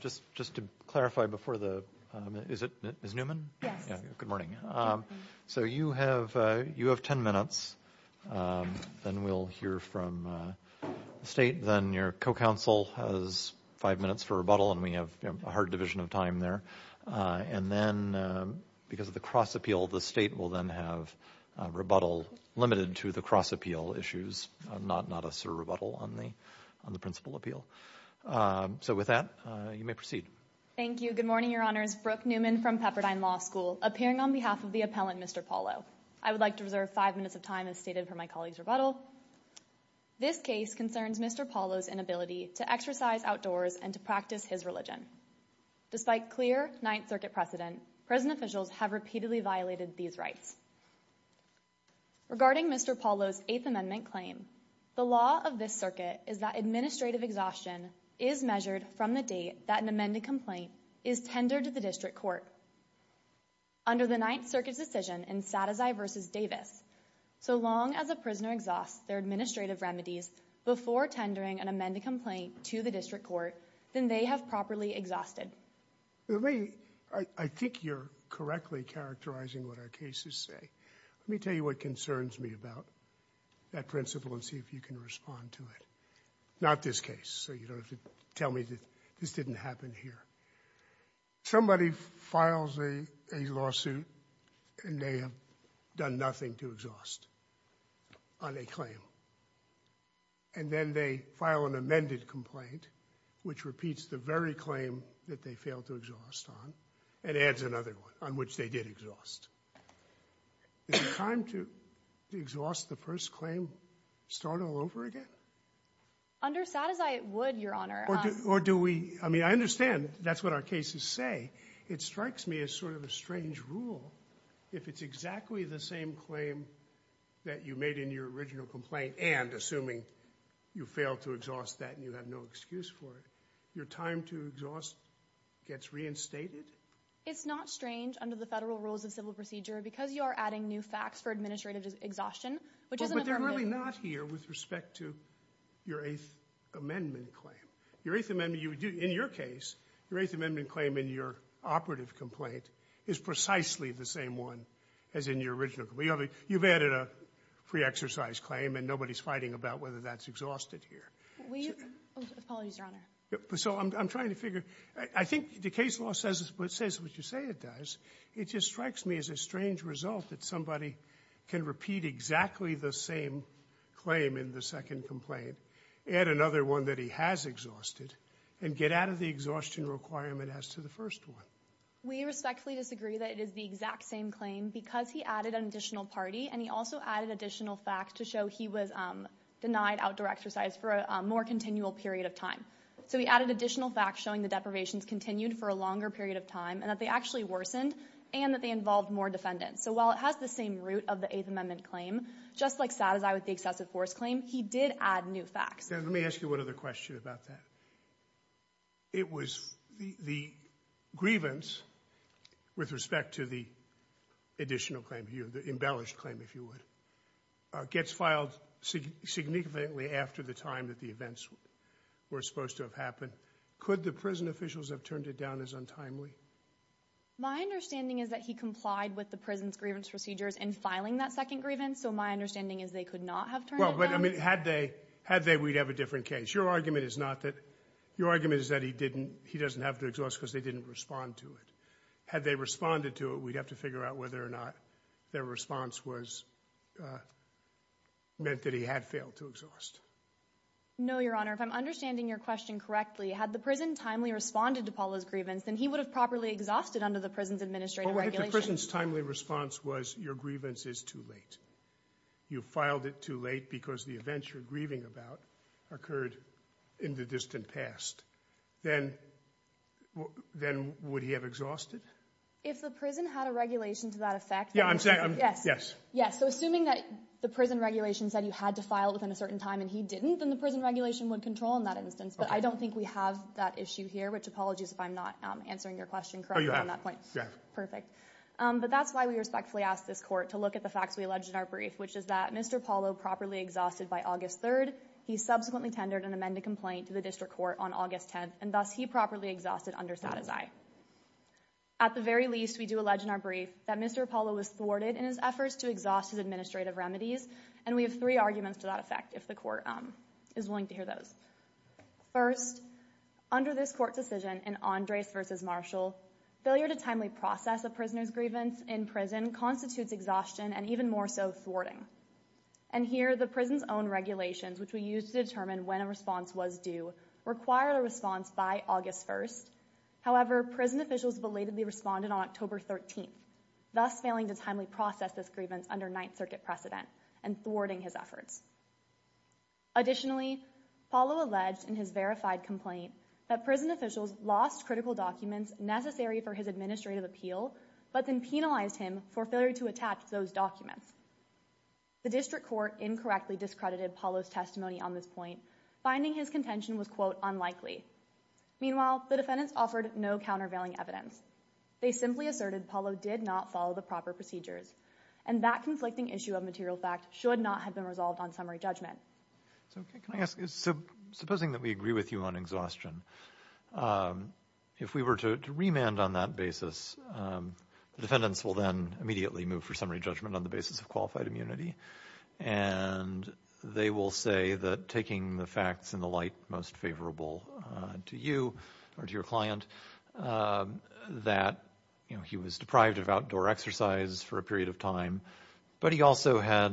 Just to clarify before the, is it Ms. Newman? Yes. Good morning. So you have 10 minutes and we'll hear from the state, then your co-counsel has five minutes for rebuttal and we have a hard division of time there. And then, because of the cross-appeal, the state will then have rebuttal limited to the cross-appeal issues, not a sort of rebuttal on the principal appeal. So with that, you may proceed. Thank you. Good morning, Your Honors. Brooke Newman from Pepperdine Law School, appearing on behalf of the appellant, Mr. Paulo. I would like to reserve five minutes of time as stated for my colleague's rebuttal. This case concerns Mr. Paulo's inability to exercise outdoors and to practice his religion. Despite clear Ninth Circuit precedent, prison officials have repeatedly violated these rights. Regarding Mr. Paulo's Eighth Amendment claim, the law of this circuit is that administrative exhaustion is measured from the date that an amended complaint is tendered to the district court. Under the Ninth Circuit's decision in Sadezay v. Davis, so long as a prisoner exhausts their administrative remedies before tendering an amended complaint to the district court, then they have properly exhausted. I think you're correctly characterizing what our cases say. Let me tell you what concerns me about that principle and see if you can respond to it. Not this case, so you don't have to tell me that this didn't happen here. Somebody files a lawsuit and they have done nothing to exhaust on a claim. And then they file an amended complaint, which repeats the very claim that they failed to exhaust on and adds another one on which they did exhaust. Is the time to exhaust the first claim start all over again? Under Sadezay, it would, Your Honor. Or do we, I mean, I understand that's what our cases say. It strikes me as sort of a strange rule. If it's exactly the same claim that you made in your original complaint and assuming you failed to exhaust that and you have no excuse for it, your time to exhaust gets reinstated? It's not strange under the Federal Rules of Civil Procedure because you are adding new facts for administrative exhaustion, which isn't affirmative. But they're really not here with respect to your Eighth Amendment claim. Your Eighth Amendment, in your case, your Eighth Amendment claim in your operative complaint is precisely the same one as in your original complaint. You've added a free exercise claim and nobody's fighting about whether that's exhausted here. We, oh, apologies, Your Honor. So I'm trying to figure, I think the case law says what you say it does. It just strikes me as a strange result that somebody can repeat exactly the same claim in the second complaint, add another one that he has exhausted, and get out of the exhaustion requirement as to the first one. We respectfully disagree that it is the exact same claim because he added an additional party and he also added additional facts to show he was denied outdoor exercise for a more continual period of time. So he added additional facts showing the deprivations continued for a longer period of time and that they actually worsened and that they involved more defendants. So while it has the same root of the Eighth Amendment claim, just like Satizai with the excessive force claim, he did add new facts. Let me ask you one other question about that. It was the grievance with respect to the additional claim here, the embellished claim, if you would, gets filed significantly after the time that the events were supposed to have happened. Could the prison officials have turned it down as untimely? My understanding is that he complied with the prison's grievance procedures in filing that second grievance. So my understanding is they could not have turned it down. Well, but I mean, had they, we'd have a different case. Your argument is not that, your argument is that he didn't, he doesn't have to exhaust because they didn't respond to it. Had they responded to it, we'd have to figure out whether or not their response was, meant that he had failed to exhaust. No, Your Honor. If I'm understanding your question correctly, had the prison timely responded to Paula's grievance, then he would have properly exhausted under the prison's administrative regulations. What if the prison's timely response was your grievance is too late? You filed it too late because the events you're grieving about occurred in the distant past. Then, then would he have exhausted? If the prison had a regulation to that effect, Yeah, I'm saying, yes, yes. So assuming that the prison regulation said you had to file within a certain time and he didn't, then the prison regulation would control in that instance. But I don't think we have that issue here, which apologies if I'm not answering your question correctly on that point. But that's why we respectfully ask this court to look at the facts we alleged in our brief, which is that Mr. Apollo properly exhausted by August 3rd. He subsequently tendered an amended complaint to the district court on August 10th. And thus he properly exhausted under satisfy. At the very least, we do allege in our brief that Mr. Apollo was thwarted in his efforts to exhaust his administrative remedies. And we have three arguments to that effect, if the court is willing to hear those. First, under this court decision in Andres versus Marshall, failure to timely process a prisoner's grievance in prison constitutes exhaustion and even more so thwarting. And here the prison's own regulations, which we use to determine when a response was due, require a response by August 1st. However, prison officials belatedly responded on October 13th. Thus failing to timely process this grievance under Ninth Circuit precedent and thwarting his efforts. Additionally, Apollo alleged in his verified complaint that prison officials lost critical documents necessary for his administrative appeal, but then penalized him for failure to attach those documents. The district court incorrectly discredited Apollo's testimony on this point. Finding his contention was quote unlikely. Meanwhile, the defendants offered no countervailing evidence. They simply asserted Apollo did not follow the proper procedures and that conflicting issue of material fact should not have been resolved on summary judgment. So can I ask, supposing that we agree with you on exhaustion, if we were to remand on that basis, defendants will then immediately move for summary judgment on the basis of qualified immunity and they will say that taking the facts in the light most favorable to you or to the client, that he was deprived of outdoor exercise for a period of time, but he also had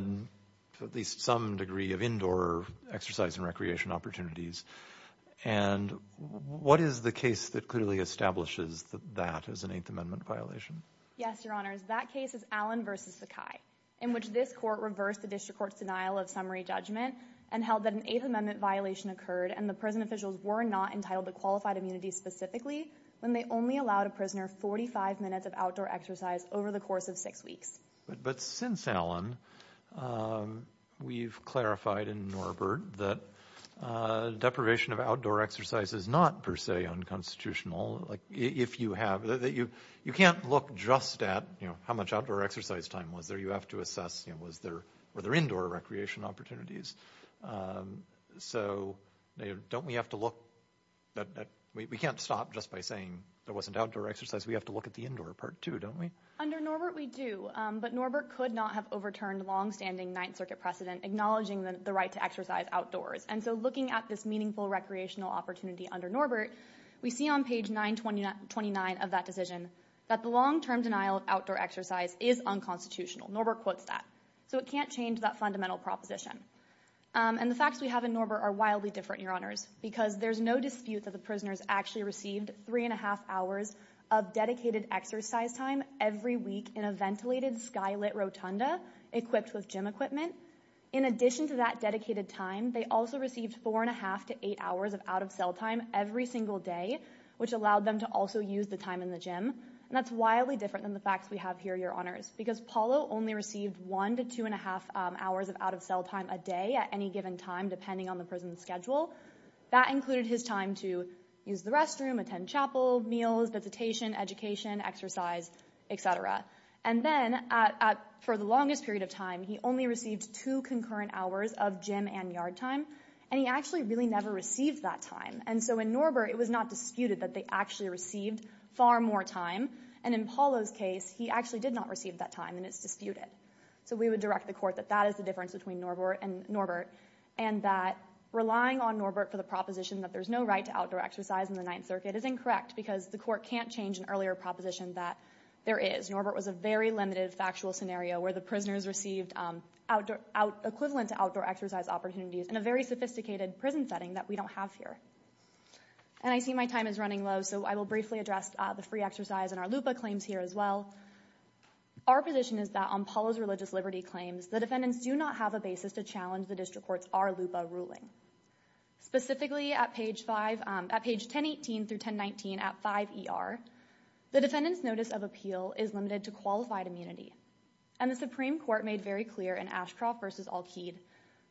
at least some degree of indoor exercise and recreation opportunities. And what is the case that clearly establishes that that is an Eighth Amendment violation? Yes, Your Honors, that case is Allen v. Sakai, in which this court reversed the district court's denial of summary judgment and held that an Eighth Amendment violation occurred and the prison officials were not entitled to qualified immunity specifically when they only allowed a prisoner 45 minutes of outdoor exercise over the course of six weeks. But since Allen, we've clarified in Norbert that deprivation of outdoor exercise is not per se unconstitutional. If you have, you can't look just at how much outdoor exercise time was there. You have to assess, was there indoor recreation opportunities? So don't we have to look, we can't stop just by saying there wasn't outdoor exercise. We have to look at the indoor part too, don't we? Under Norbert, we do, but Norbert could not have overturned long-standing Ninth Circuit precedent acknowledging the right to exercise outdoors. And so looking at this meaningful recreational opportunity under Norbert, we see on page 929 of that decision that the long-term denial of outdoor exercise is unconstitutional. Norbert quotes that. So it can't change that fundamental proposition. And the facts we have in Norbert are wildly different, your honors, because there's no dispute that the prisoners actually received three and a half hours of dedicated exercise time every week in a ventilated sky-lit rotunda equipped with gym equipment. In addition to that dedicated time, they also received four and a half to eight hours of out-of-cell time every single day, which allowed them to also use the time in the gym. That's wildly different than the facts we have here, your honors, because Paulo only received one to two and a half hours of out-of-cell time a day at any given time, depending on the prison's schedule. That included his time to use the restroom, attend chapel, meals, visitation, education, exercise, etc. And then for the longest period of time, he only received two concurrent hours of gym and yard time. And he actually really never received that time. And so in Norbert, it was not disputed that they actually received far more time. And in Paulo's case, he actually did not receive that time and it's disputed. So we would direct the court that that is the difference between Norbert and Norbert, and that relying on Norbert for the proposition that there's no right to outdoor exercise in the Ninth Circuit is incorrect because the court can't change an earlier proposition that there is. Norbert was a very limited factual scenario where the prisoners received equivalent to outdoor exercise opportunities in a very sophisticated prison setting that we don't have here. And I see my time is running low, so I will briefly address the free exercise and our LUPA claims here as well. Our position is that on Paulo's religious liberty claims, the defendants do not have a basis to challenge the district court's R-LUPA ruling. Specifically at page 5, at page 1018 through 1019 at 5ER, the defendant's notice of appeal is limited to qualified immunity. And the Supreme Court made very clear in Ashcroft versus Alkeid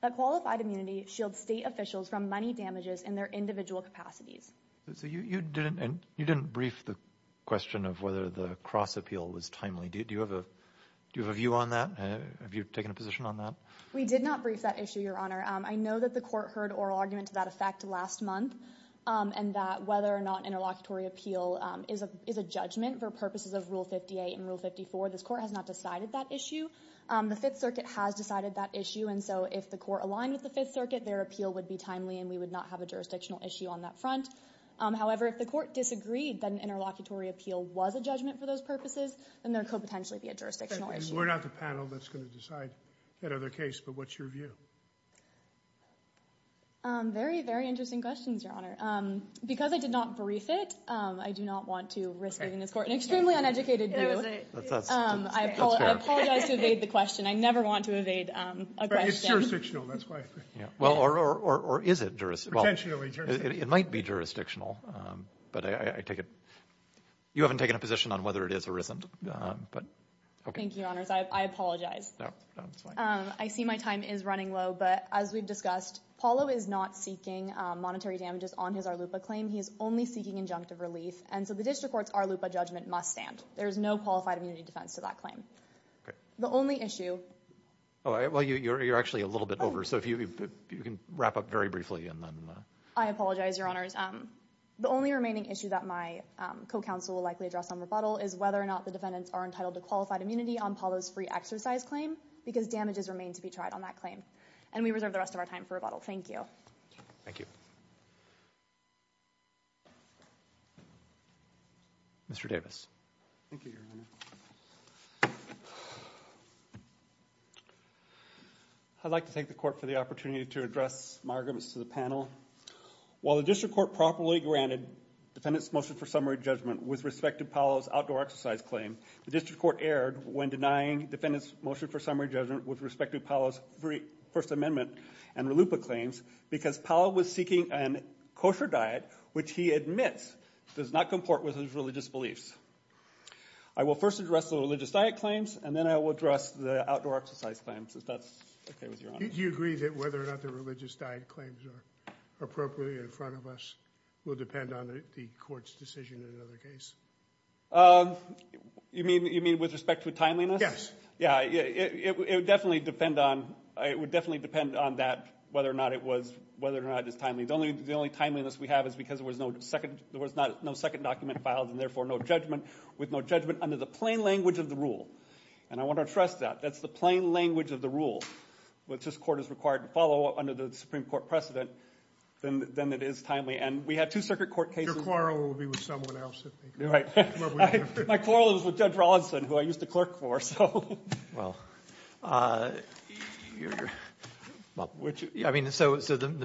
that qualified immunity shields state officials from money damages in their individual capacities. So you didn't brief the question of whether the cross-appeal was timely. Do you have a view on that? Have you taken a position on that? We did not brief that issue, Your Honor. I know that the court heard oral argument to that effect last month and that whether or not interlocutory appeal is a judgment for purposes of Rule 58 and Rule 54. This court has not decided that issue. The Fifth Circuit has decided that issue. And so if the court aligned with the Fifth Circuit, their appeal would be timely and we would not have a jurisdictional issue on that front. However, if the court disagreed that an interlocutory appeal was a judgment for those purposes, then there could potentially be a jurisdictional issue. And we're not the panel that's going to decide that other case. But what's your view? Very, very interesting questions, Your Honor. Because I did not brief it, I do not want to risk giving this court an extremely uneducated view. I apologize to evade the question. I never want to evade a question. It's jurisdictional, that's why. Or is it jurisdictional? It might be jurisdictional. But I take it you haven't taken a position on whether it is or isn't. Thank you, Your Honors. I apologize. No, it's fine. I see my time is running low, but as we've discussed, Paolo is not seeking monetary damages on his Arlupa claim. He is only seeking injunctive relief. And so the district court's Arlupa judgment must stand. There is no qualified immunity defense to that claim. The only issue... Well, you're actually a little bit over. You can wrap up very briefly. I apologize, Your Honors. The only remaining issue that my co-counsel will likely address on rebuttal is whether or not the defendants are entitled to qualified immunity on Paolo's free exercise claim because damages remain to be tried on that claim. And we reserve the rest of our time for rebuttal. Thank you. Thank you. Mr. Davis. Thank you, Your Honor. Thank you. I'd like to thank the court for the opportunity to address my arguments to the panel. While the district court properly granted defendants' motion for summary judgment with respect to Paolo's outdoor exercise claim, the district court erred when denying defendants' motion for summary judgment with respect to Paolo's First Amendment and Arlupa claims because Paolo was seeking a kosher diet which he admits does not comport with his religious beliefs. I will first address the religious diet claims and then I will address the outdoor exercise claims, if that's okay with Your Honor. Do you agree that whether or not the religious diet claims are appropriate in front of us will depend on the court's decision in another case? You mean with respect to timeliness? Yes. Yeah, it would definitely depend on that whether or not it was timely. The only timeliness we have is because there was no second document filed and therefore no judgment with no judgment under the plain language of the rule. And I want to stress that. That's the plain language of the rule which this court is required to follow under the Supreme Court precedent than it is timely. And we had two circuit court cases. Your quarrel will be with someone else. My quarrel was with Judge Rawlinson who I used to clerk for. So the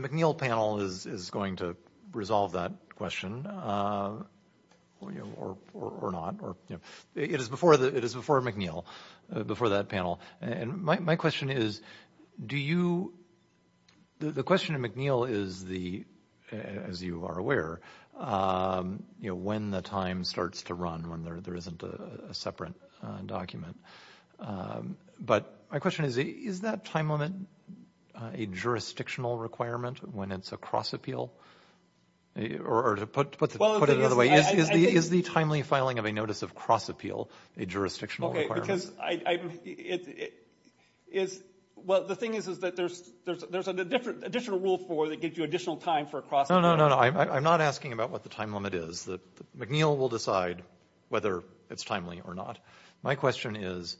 McNeil panel is going to resolve that question. Or not. It is before McNeil, before that panel. And my question is, do you, the question of McNeil is the, as you are aware, when the time starts to run when there isn't a separate document. But my question is, is that time limit a jurisdictional requirement when it's a cross appeal? Or to put it another way, is the timely filing of a notice of cross appeal a jurisdictional requirement? Okay, because I, it's, well the thing is that there's an additional rule that gives you additional time for a cross appeal. No, no, no. I'm not asking about what the time limit is. McNeil will decide whether it's timely or not. My question is,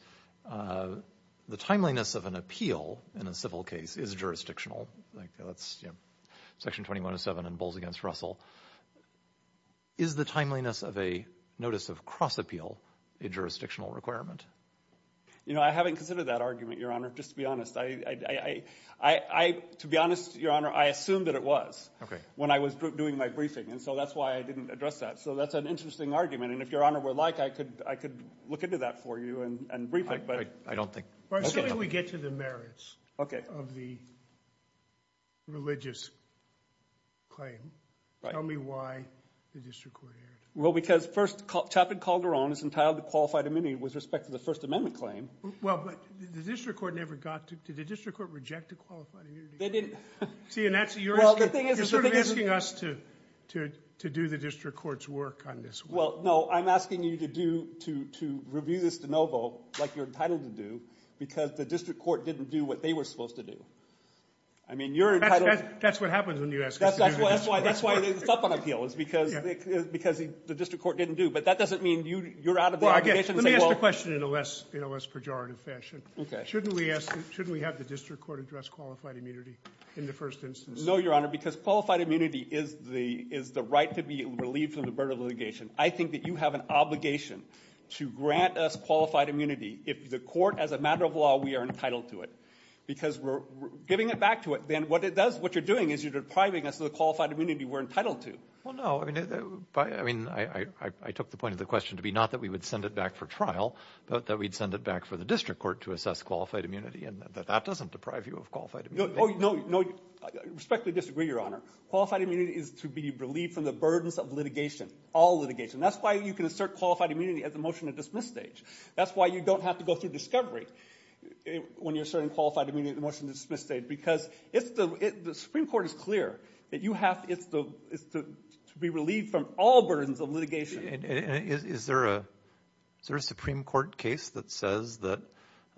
the timeliness of an appeal in a civil case is jurisdictional. Section 2107 in Bowles v. Russell. Is the timeliness of a notice of cross appeal a jurisdictional requirement? You know, I haven't considered that argument, Your Honor, just to be honest. I, I, I, I, I, to be honest, Your Honor, I assumed that it was. Okay. When I was doing my briefing. And so that's why I didn't address that. So that's an interesting argument. And if Your Honor would like, I could, I could look into that for you and brief it. I don't think. Well, assuming we get to the merits. Okay. Of the religious claim. Right. Tell me why the district court erred. Well, because first, Chaplain Calderon is entitled to qualified immunity with respect to the First Amendment claim. Well, but the district court never got to, did the district court reject a qualified immunity? They didn't. See, and that's, you're asking, you're sort of asking us to, to, to do the district court's work on this one. Well, no, I'm asking you to do, to, to review this de novo like you're entitled to do because the district court didn't do what they were supposed to do. I mean, you're entitled. That's, that's, that's what happens when you ask us to do the district court's work. That's why, that's why it's up on appeal is because, because the district court didn't do. But that doesn't mean you, you're out of there. Let me ask you a question in a less, in a less pejorative fashion. Okay. Shouldn't we ask, shouldn't we have the district court address qualified immunity in the first instance? No, Your Honor, because qualified immunity is the, is the right to be relieved from the burden of litigation. I think that you have an obligation to grant us qualified immunity. If the court, as a matter of law, we are entitled to it because we're giving it back to it. Then what it does, what you're doing is you're depriving us of the qualified immunity we're entitled to. Well, no, I mean, by, I mean, I, I, I took the point of the question to be not that we would send it back for trial, but that we'd send it back for the district court to assess qualified immunity and that that doesn't deprive you of qualified immunity. No, no, no. I respectfully disagree, Your Honor. Qualified immunity is to be relieved from the burdens of litigation. All litigation. That's why you can assert qualified immunity at the motion to dismiss stage. That's why you don't have to go through discovery when you're asserting qualified immunity at the motion to dismiss stage because it's the, the Supreme Court is clear that you have, it's the, it's to be relieved from all burdens of litigation. Is there a, is there a Supreme Court case that says that,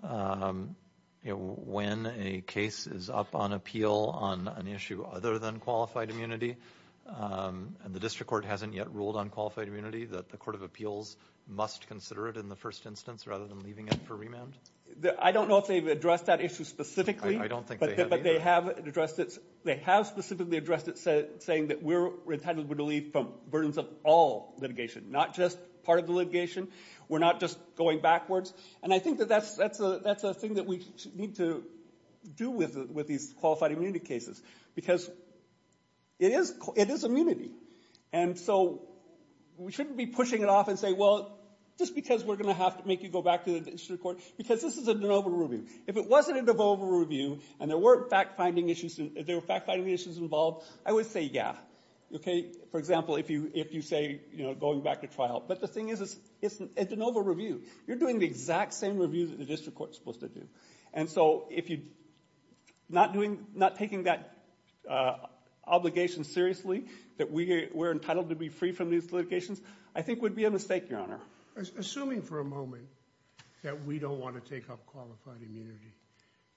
you know, when a case is up on appeal on an issue other than qualified immunity and the district court hasn't yet ruled on qualified immunity, that the court of appeals must consider it in the first instance rather than leaving it for remand? I don't know if they've addressed that issue specifically. I don't think they have either. But they have addressed it. They have specifically addressed it saying that we're entitled to be relieved from burdens of all litigation, not just part of the litigation. We're not just going backwards. And I think that that's, that's a, that's a thing that we need to do with, with these qualified immunity cases because it is, it is immunity. And so we shouldn't be pushing it off and say, well, just because we're going to have to make you go back to the district court, because this is a de novo review. If it wasn't a de novo review and there weren't fact-finding issues, there were fact-finding issues involved, I would say yeah. Okay? For example, if you, if you say, you know, going back to trial. But the thing is, it's a de novo review. You're doing the exact same review that the district court's supposed to do. And so if you're not doing, not taking that obligation seriously, that we're entitled to be free from these litigations, I think would be a mistake, Your Honor. Assuming for a moment that we don't want to take up qualified immunity,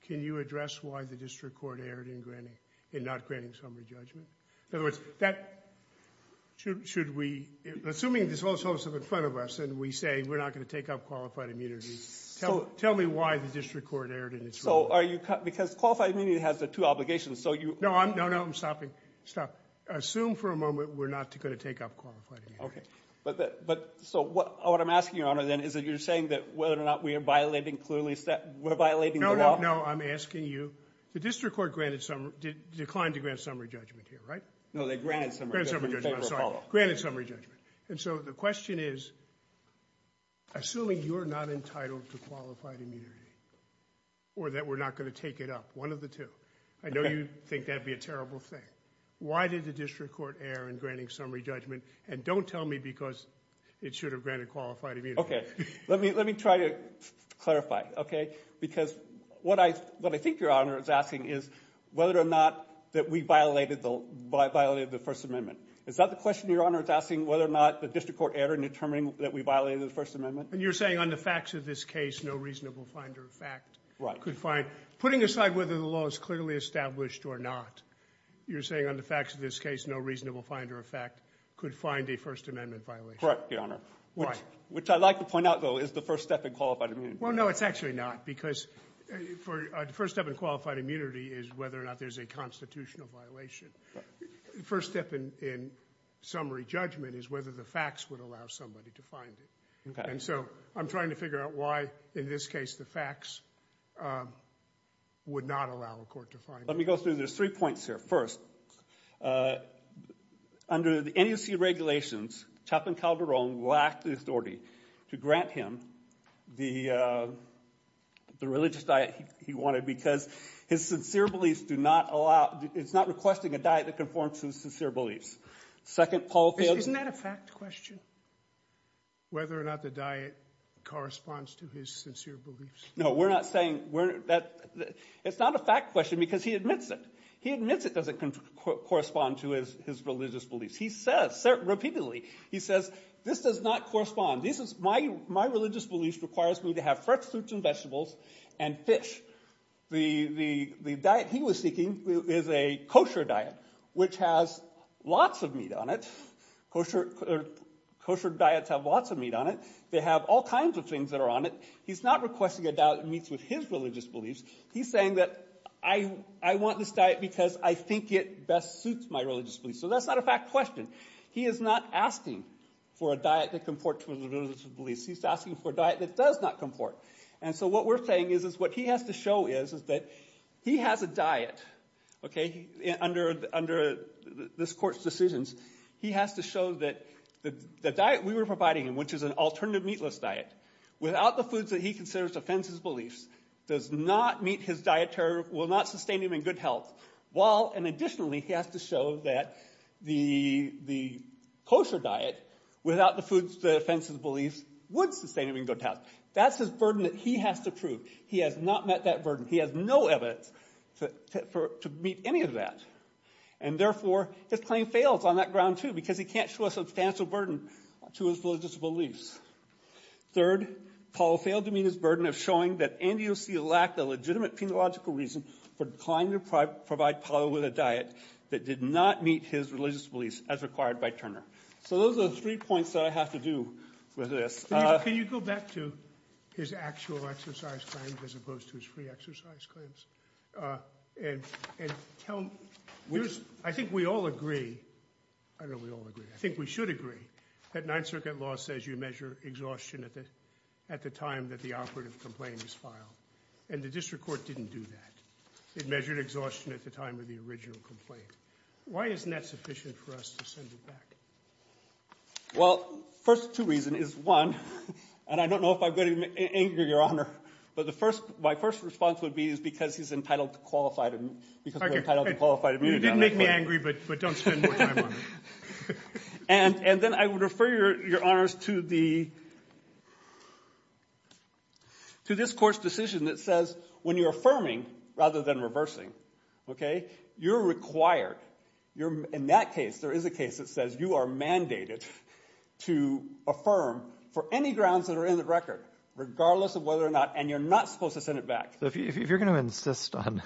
can you address why the district court erred in granting, in not granting summary judgment? In other words, that, should, should we, assuming this whole host is in front of us and we say we're not going to take up qualified immunity, tell, tell me why the district court erred in its role. So are you, because qualified immunity has the two obligations, so you No, I'm, no, no, I'm stopping, stop. Assume for a moment we're not going to take up qualified immunity. Okay. But, but, so what, what I'm asking, Your Honor, then, is that you're saying that whether or not we are violating clearly set, we're violating the law? No, no, no, I'm asking you, the district court granted summary, declined to grant summary judgment here, right? No, they granted summary judgment. Granted summary judgment, I'm sorry. Granted summary judgment. And so the question is, assuming you're not entitled to qualified immunity or that we're not going to take it up, one of the two. Okay. I know you think that'd be a terrible thing. Why did the district court err in granting summary judgment? And don't tell me because it should have granted qualified immunity. Okay. Let me, let me try to clarify, okay? Because what I, what I think Your Honor is asking is whether or not that we violated the, violated the First Amendment. Is that the question, Your Honor, is asking whether or not the district court err in determining that we violated the First Amendment? And you're saying on the facts of this case, no reasonable finder of fact could find. Right. Putting aside whether the law is clearly established or not, you're saying on the facts of this case, no reasonable finder of fact could find a First Amendment violation. Correct, Your Honor. Right. Which I'd like to point out, though, is the first step in qualified immunity. Well, no, it's actually not. Because for, the first step in qualified immunity is whether or not there's a constitutional violation. The first step in, in summary judgment is whether the facts would allow somebody to find it. Okay. And so I'm trying to figure out why, in this case, the facts would not allow a court to find it. Let me go through, there's three points here. First, under the NEC regulations, Chapman Calderon lacked the authority to grant him the, the religious diet he wanted because his sincere beliefs do not allow, it's not requesting a diet that conforms to his sincere beliefs. Second, Paul failed to... Isn't that a fact question? Whether or not the diet corresponds to his sincere beliefs. No, we're not saying, we're, that, it's not a fact question because he admits it. He admits it doesn't correspond to his, his religious beliefs. He says, repeatedly, he says, this does not correspond, this is, my, my religious beliefs requires me to have fresh fruits and vegetables and fish. The, the, the diet he was seeking is a kosher diet, which has lots of meat on it. Kosher, kosher diets have lots of meat on it. They have all kinds of things that are on it. He's not requesting a diet that meets with his religious beliefs. He's saying that I, I want this diet because I think it best suits my religious beliefs. So that's not a fact question. He is not asking for a diet that comports to his religious beliefs. He's asking for a diet that does not comport. And so what we're saying is, is what he has to show is, is that he has a diet, okay? Under, under this court's decisions, he has to show that the, the diet we were providing him, which is an alternative meatless diet, without the foods that he considers to offend his beliefs, does not meet his dietary, will not sustain him in good health, while, and additionally, he has to show that the, the kosher diet, without the foods that offend his beliefs, would sustain him in good health. That's his burden that he has to prove. He has not met that burden. He has no evidence to, to, to meet any of that. And therefore, his claim fails on that ground, too, because he can't show a substantial burden to his religious beliefs. Third, Paul failed to meet his burden of showing that NDOC lacked a legitimate penological reason for declining to provide Paul with a diet that did not meet his religious beliefs, as required by Turner. So those are the three points that I have to do with this. Can you go back to his actual exercise claims as opposed to his free exercise claims? And, and tell me, there's, I think we all agree, I don't know if we all agree, I think we should agree, that Ninth Circuit law says you measure exhaustion at the, at the time that the operative complaint is filed. And the district court didn't do that. It measured exhaustion at the time of the original complaint. Why isn't that sufficient for us to send it back? Well, first two reasons is, one, and I don't know if I'm going to anger Your Honor, but the first, my first response would be, is because he's entitled to qualified, because we're entitled to qualified immunity. You did make me angry, but, but don't spend more time on it. And, and then I would refer Your Honors to the, to this court's decision that says, when you're affirming rather than reversing, okay, you're required, you're, in that case, there is a case that says you are mandated to affirm for any grounds that are in the record, regardless of whether or not, and you're not supposed to send it back. So if you're going to insist on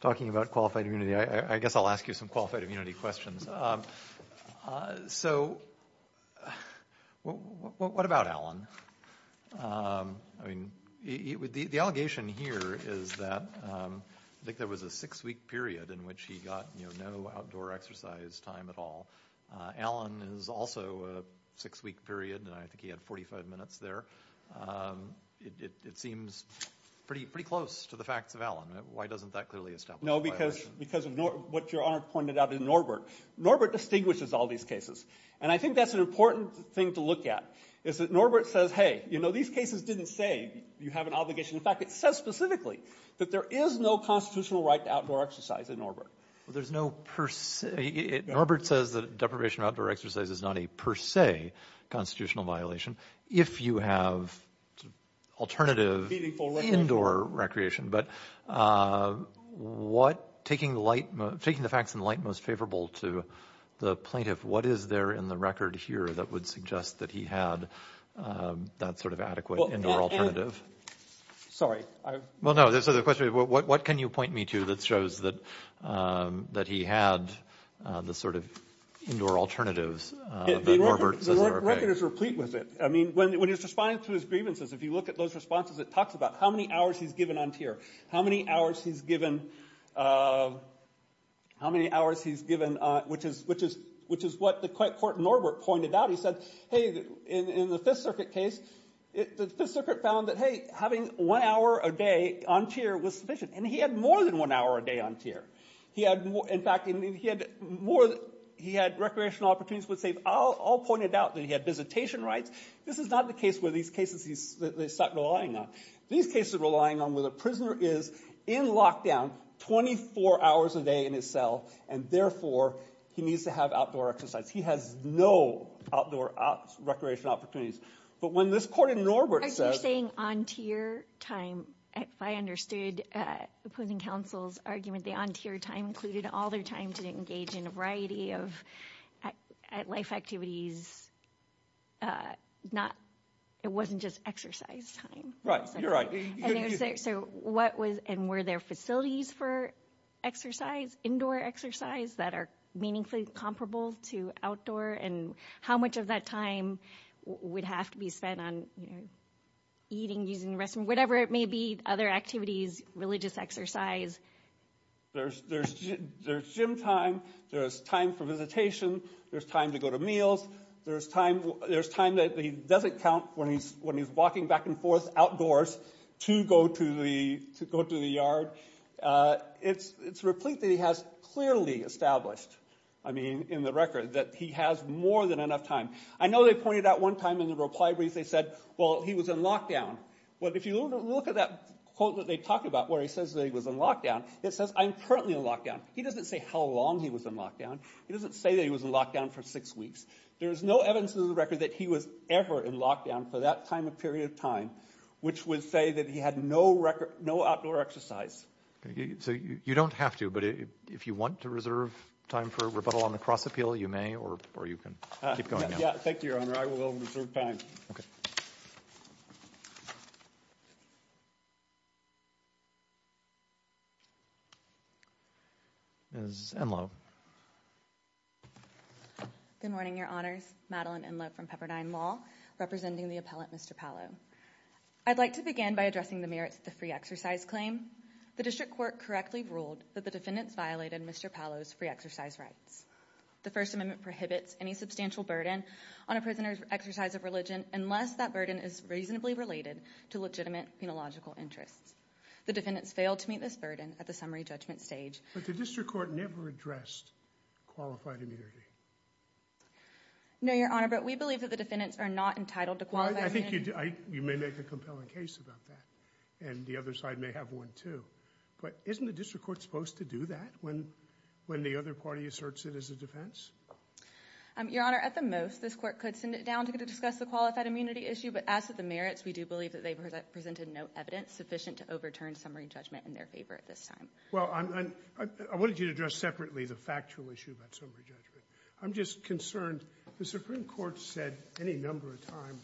talking about qualified immunity, I guess I'll ask you some qualified immunity questions. So, what about Allen? I mean, the allegation here is that, I think there was a six-week period in which he got, you know, no outdoor exercise time at all. Allen is also a six-week period, and I think he had 45 minutes there. It, it, it seems pretty, pretty close to the facts of Allen. Why doesn't that clearly establish... No, because, because of what Your Honor pointed out in Norbert. Norbert distinguishes all these cases. And I think that's an important thing to look at, is that Norbert says, hey, you know, these cases didn't say you have an obligation. In fact, it says specifically that there is no constitutional right to outdoor exercise in Norbert. Well, there's no per se... Norbert says that deprivation of outdoor exercise is not a per se constitutional violation, if you have alternative... Feeding for recreation. ...indoor recreation. But what, taking the light, taking the facts in light most favorable to the plaintiff, what is there in the record here that would suggest that he had that sort of adequate indoor alternative? Well, Allen, sorry, I... Well, no, so the question is, what can you point me to that shows that he had the sort of indoor alternatives that Norbert says are okay? The record is replete with it. I mean, when he was responding to his grievances, if you look at those responses, it talks about how many hours he's given on tier, how many hours he's given, how many hours he's given, which is what the court in Norbert pointed out. He said, hey, in the Fifth Circuit case, the Fifth Circuit found that, hey, having one hour a day on tier was sufficient. And he had more than one hour a day on tier. He had more... In fact, he had more... He had recreational opportunities with safe... All pointed out that he had visitation rights. This is not the case where these cases he's...they start relying on. These cases are relying on where the prisoner is in lockdown, 24 hours a day in his cell, and therefore he needs to have outdoor exercise. He has no outdoor... recreational opportunities. But when this court in Norbert says... If I understood opposing counsel's argument, the on-tier time included all their time to engage in a variety of life activities, not... It wasn't just exercise time. Right. You're right. So what was... And were there facilities for exercise, indoor exercise, that are meaningfully comparable to outdoor? And how much of that time would have to be spent on eating, using the restroom, whatever it may be, other activities, religious exercise? There's gym time. There's time for visitation. There's time to go to meals. There's time that he doesn't count when he's walking back and forth outdoors to go to the... to go to the yard. It's replete that he has clearly established, I mean, in the record, that he has more than enough time. I know they pointed out one time in the reply brief they said, well, he was in lockdown. Well, if you look at that quote that they talk about where he says that he was in lockdown, it says, I'm currently in lockdown. He doesn't say how long he was in lockdown. He doesn't say that he was in lockdown for six weeks. There is no evidence in the record that he was ever in lockdown for that time and period of time, which would say that he had no outdoor exercise. So you don't have to, but if you want to reserve time for rebuttal on the cross-appeal, you may, or you can keep going now. Thank you, Your Honor. I will reserve time. Ms. Enloe. Good morning, Your Honors. Madeline Enloe from Pepperdine Law, representing the appellate Mr. Paolo. I'd like to begin by addressing the merits of the free exercise claim. The district court correctly ruled that the defendants violated Mr. Paolo's free exercise rights. The First Amendment prohibits any substantial burden on a prisoner's exercise of religion unless that burden is reasonably related to legitimate penological interests. The defendants failed to meet this burden at the summary judgment stage. But the district court never addressed qualified immunity. No, Your Honor, but we believe that the defendants are not entitled to qualified immunity. You may make a compelling case about that, and the other side may have one, too. But isn't the district court supposed to do that when the other party asserts it as a defense? Your Honor, at the most, this court could send it down to discuss the qualified immunity issue, but as for the merits, we do believe that they presented no evidence sufficient to overturn summary judgment in their favor at this time. Well, I wanted you to address separately the factual issue about summary judgment. I'm just concerned. The Supreme Court said any number of times,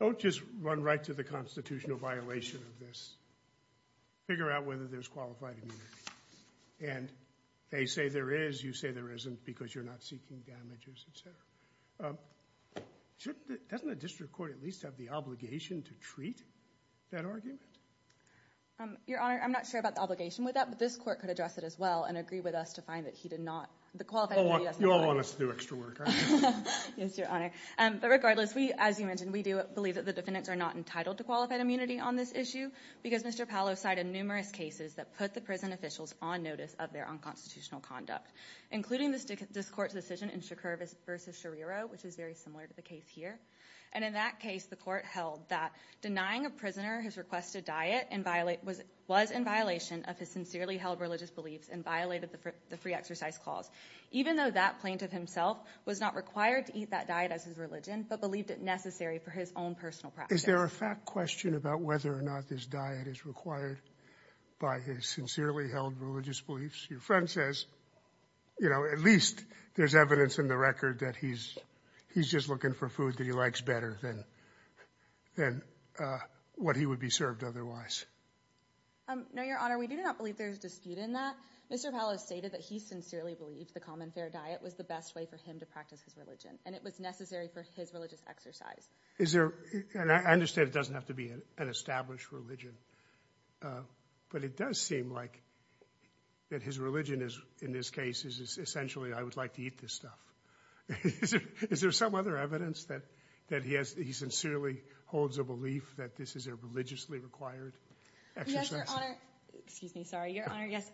don't just run right to the constitutional violation of this. Figure out whether there's qualified immunity. And they say there is, you say there isn't, because you're not seeking damages, etc. Doesn't the district court at least have the obligation to treat that argument? Your Honor, I'm not sure about the obligation with that, but this court could address it as well and agree with us to find that he did not. You all want us to do extra work, aren't you? Yes, Your Honor. But regardless, as you mentioned, we do believe that the defendants are not entitled to qualified immunity on this issue, because Mr. Paolo cited numerous cases that put the prison officials on notice of their unconstitutional conduct, including this court's decision in Chakur versus Shariro, which is very similar to the case here. And in that case, the court held that denying a prisoner his requested diet was in violation of his sincerely held religious beliefs and violated the free exercise clause, even though that plaintiff himself was not required to eat that diet as his religion, but believed it necessary for his own personal practice. Is there a fact question about whether or not this diet is required by his sincerely held religious beliefs? Your friend says at least there's evidence in the record that he's just looking for food that he likes better than what he would be served otherwise. No, Your Honor. We do not believe there's dispute in that. Mr. Paolo stated that he sincerely believed the common fair diet was the best way for him to practice his religion, and it was necessary for his religious exercise. I understand it doesn't have to be an established religion, but it does seem like that his religion in this case is essentially I would like to eat this stuff. Is there some other evidence that he sincerely holds a belief that this is a religiously required exercise? Excuse me. Sorry, Your Honor. Yes.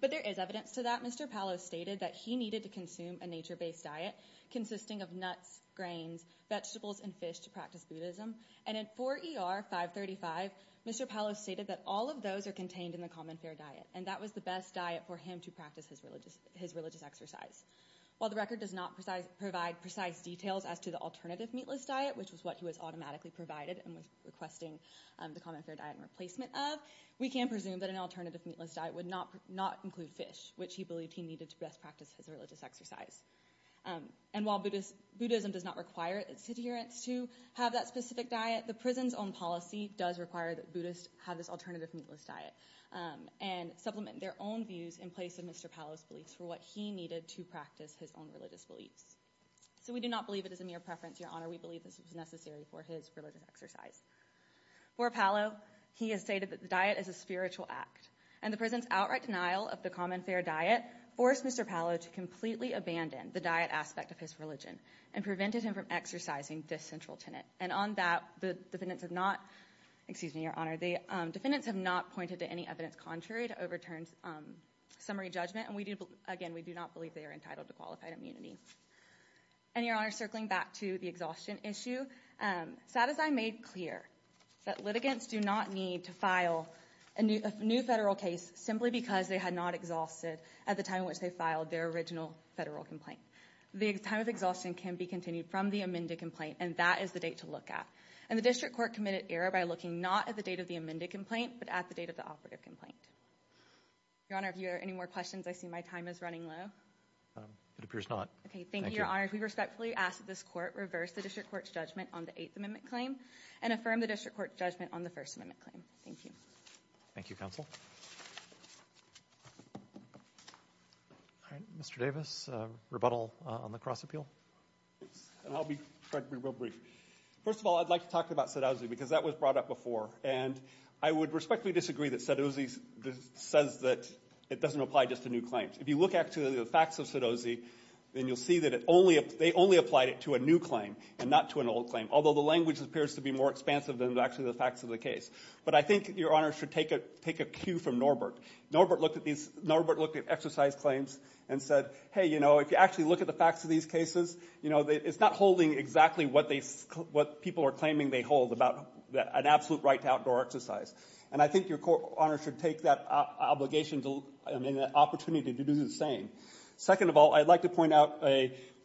But there is evidence to that. Mr. Paolo stated that he needed to consume a nature-based diet consisting of nuts, grains, vegetables, and fish to practice Buddhism, and in 4ER 535, Mr. Paolo stated that all of those are contained in the common fair diet, and that was the best diet for him to practice his religious exercise. While the record does not provide precise details as to the alternative meatless diet, which was what he was automatically provided and was requesting the common fair diet in replacement of, we can presume that an alternative meatless diet would not include fish, which he believed he needed to best practice his religious exercise. And while Buddhism does not require its adherents to have that specific diet, the prison's own policy does require that Buddhists have this alternative meatless diet and supplement their own views in place of Mr. Paolo's beliefs for what he needed to practice his own religious beliefs. So we do not believe it is a mere preference, Your Honor. We believe this was necessary for his religious exercise. For Paolo, he has stated that the diet is a spiritual act, and the prison's outright denial of the common fair diet forced Mr. Paolo to completely abandon the diet aspect of his religion and prevented him from exercising this central tenet. And on that, the defendants have not, excuse me, Your Honor, the defendants have not pointed to any evidence contrary to overturn's summary judgment, and we do, again, we do not believe they are entitled to qualified immunity. And, Your Honor, circling back to the exhaustion issue, Sadezay made clear that litigants do not need to file a new federal case simply because they had not exhausted at the time in which they filed their original federal complaint. The time of exhaustion can be continued from the amended complaint and that is the date to look at. And the District Court committed error by looking not at the date of the amended complaint, but at the date of the operative complaint. Your Honor, if you have any more questions, I see my time is running low. It appears not. Thank you, Your Honor. We respectfully ask that this Court reverse the District Court's judgment on the Eighth Amendment claim and affirm the District Court's judgment on the First Amendment claim. Thank you. Thank you, Counsel. Mr. Davis, rebuttal on the cross-appeal. I'll be, frankly, real brief. First of all, I'd like to talk about Sadozay because that was brought up before, and I would respectfully disagree that Sadozay says that it doesn't apply just to new claims. If you look at the facts of Sadozay, then you'll see that they only applied it to a new claim and not to an old claim, although the language appears to be more expansive than actually the facts of the case. But I think Your Honor should take a cue from Norbert. Norbert looked at exercise claims and said, hey, you know, if you actually look at the facts of these cases, it's not holding exactly what people are claiming they hold about an absolute right to outdoor exercise. And I think Your Honor should take that obligation, I mean, that opportunity to do the same. Second of all, I'd like to point out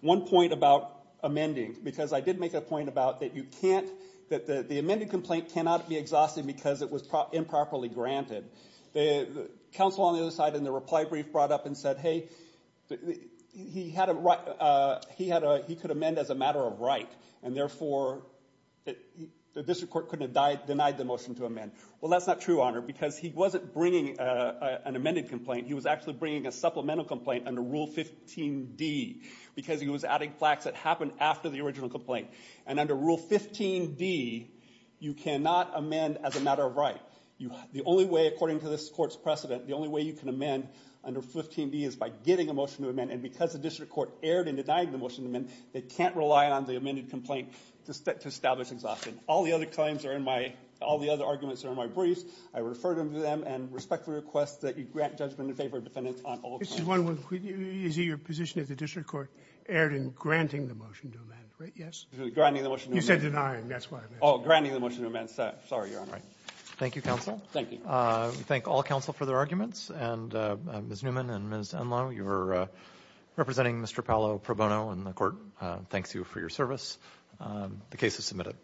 one point about amending because I did make a point about that you can't that the amended complaint cannot be exhausted because it was improperly granted. The counsel on the other side in the reply brief brought up and said hey, he could amend as a matter of right, and therefore the district court couldn't have denied the motion to amend. Well, that's not true, Your Honor, because he wasn't bringing an amended complaint. He was actually bringing a supplemental complaint under Rule 15d because he was adding facts that happened after the original complaint. And under Rule 15d you cannot amend as a matter of right. The only way, according to this court's precedent, the only way you can amend under 15d is by getting a motion to amend, and because the district court erred in denying the motion to amend, they can't rely on the amended complaint to establish exhaustion. All the other claims are in my, all the other arguments are in my briefs. I refer to them and respectfully request that you grant judgment in favor of defendants on all claims. This is one where your position is the district court erred in granting the motion to amend, right? Yes? Granting the motion to amend. You said denying, that's what I meant. Oh, granting the motion to amend. Sorry, Your Honor. Thank you, counsel. Thank you. We thank all counsel for their arguments, and Ms. Newman and Ms. Enloe, you were representing Mr. Paolo Pro Bono, and the court thanks you for your service. The case is submitted.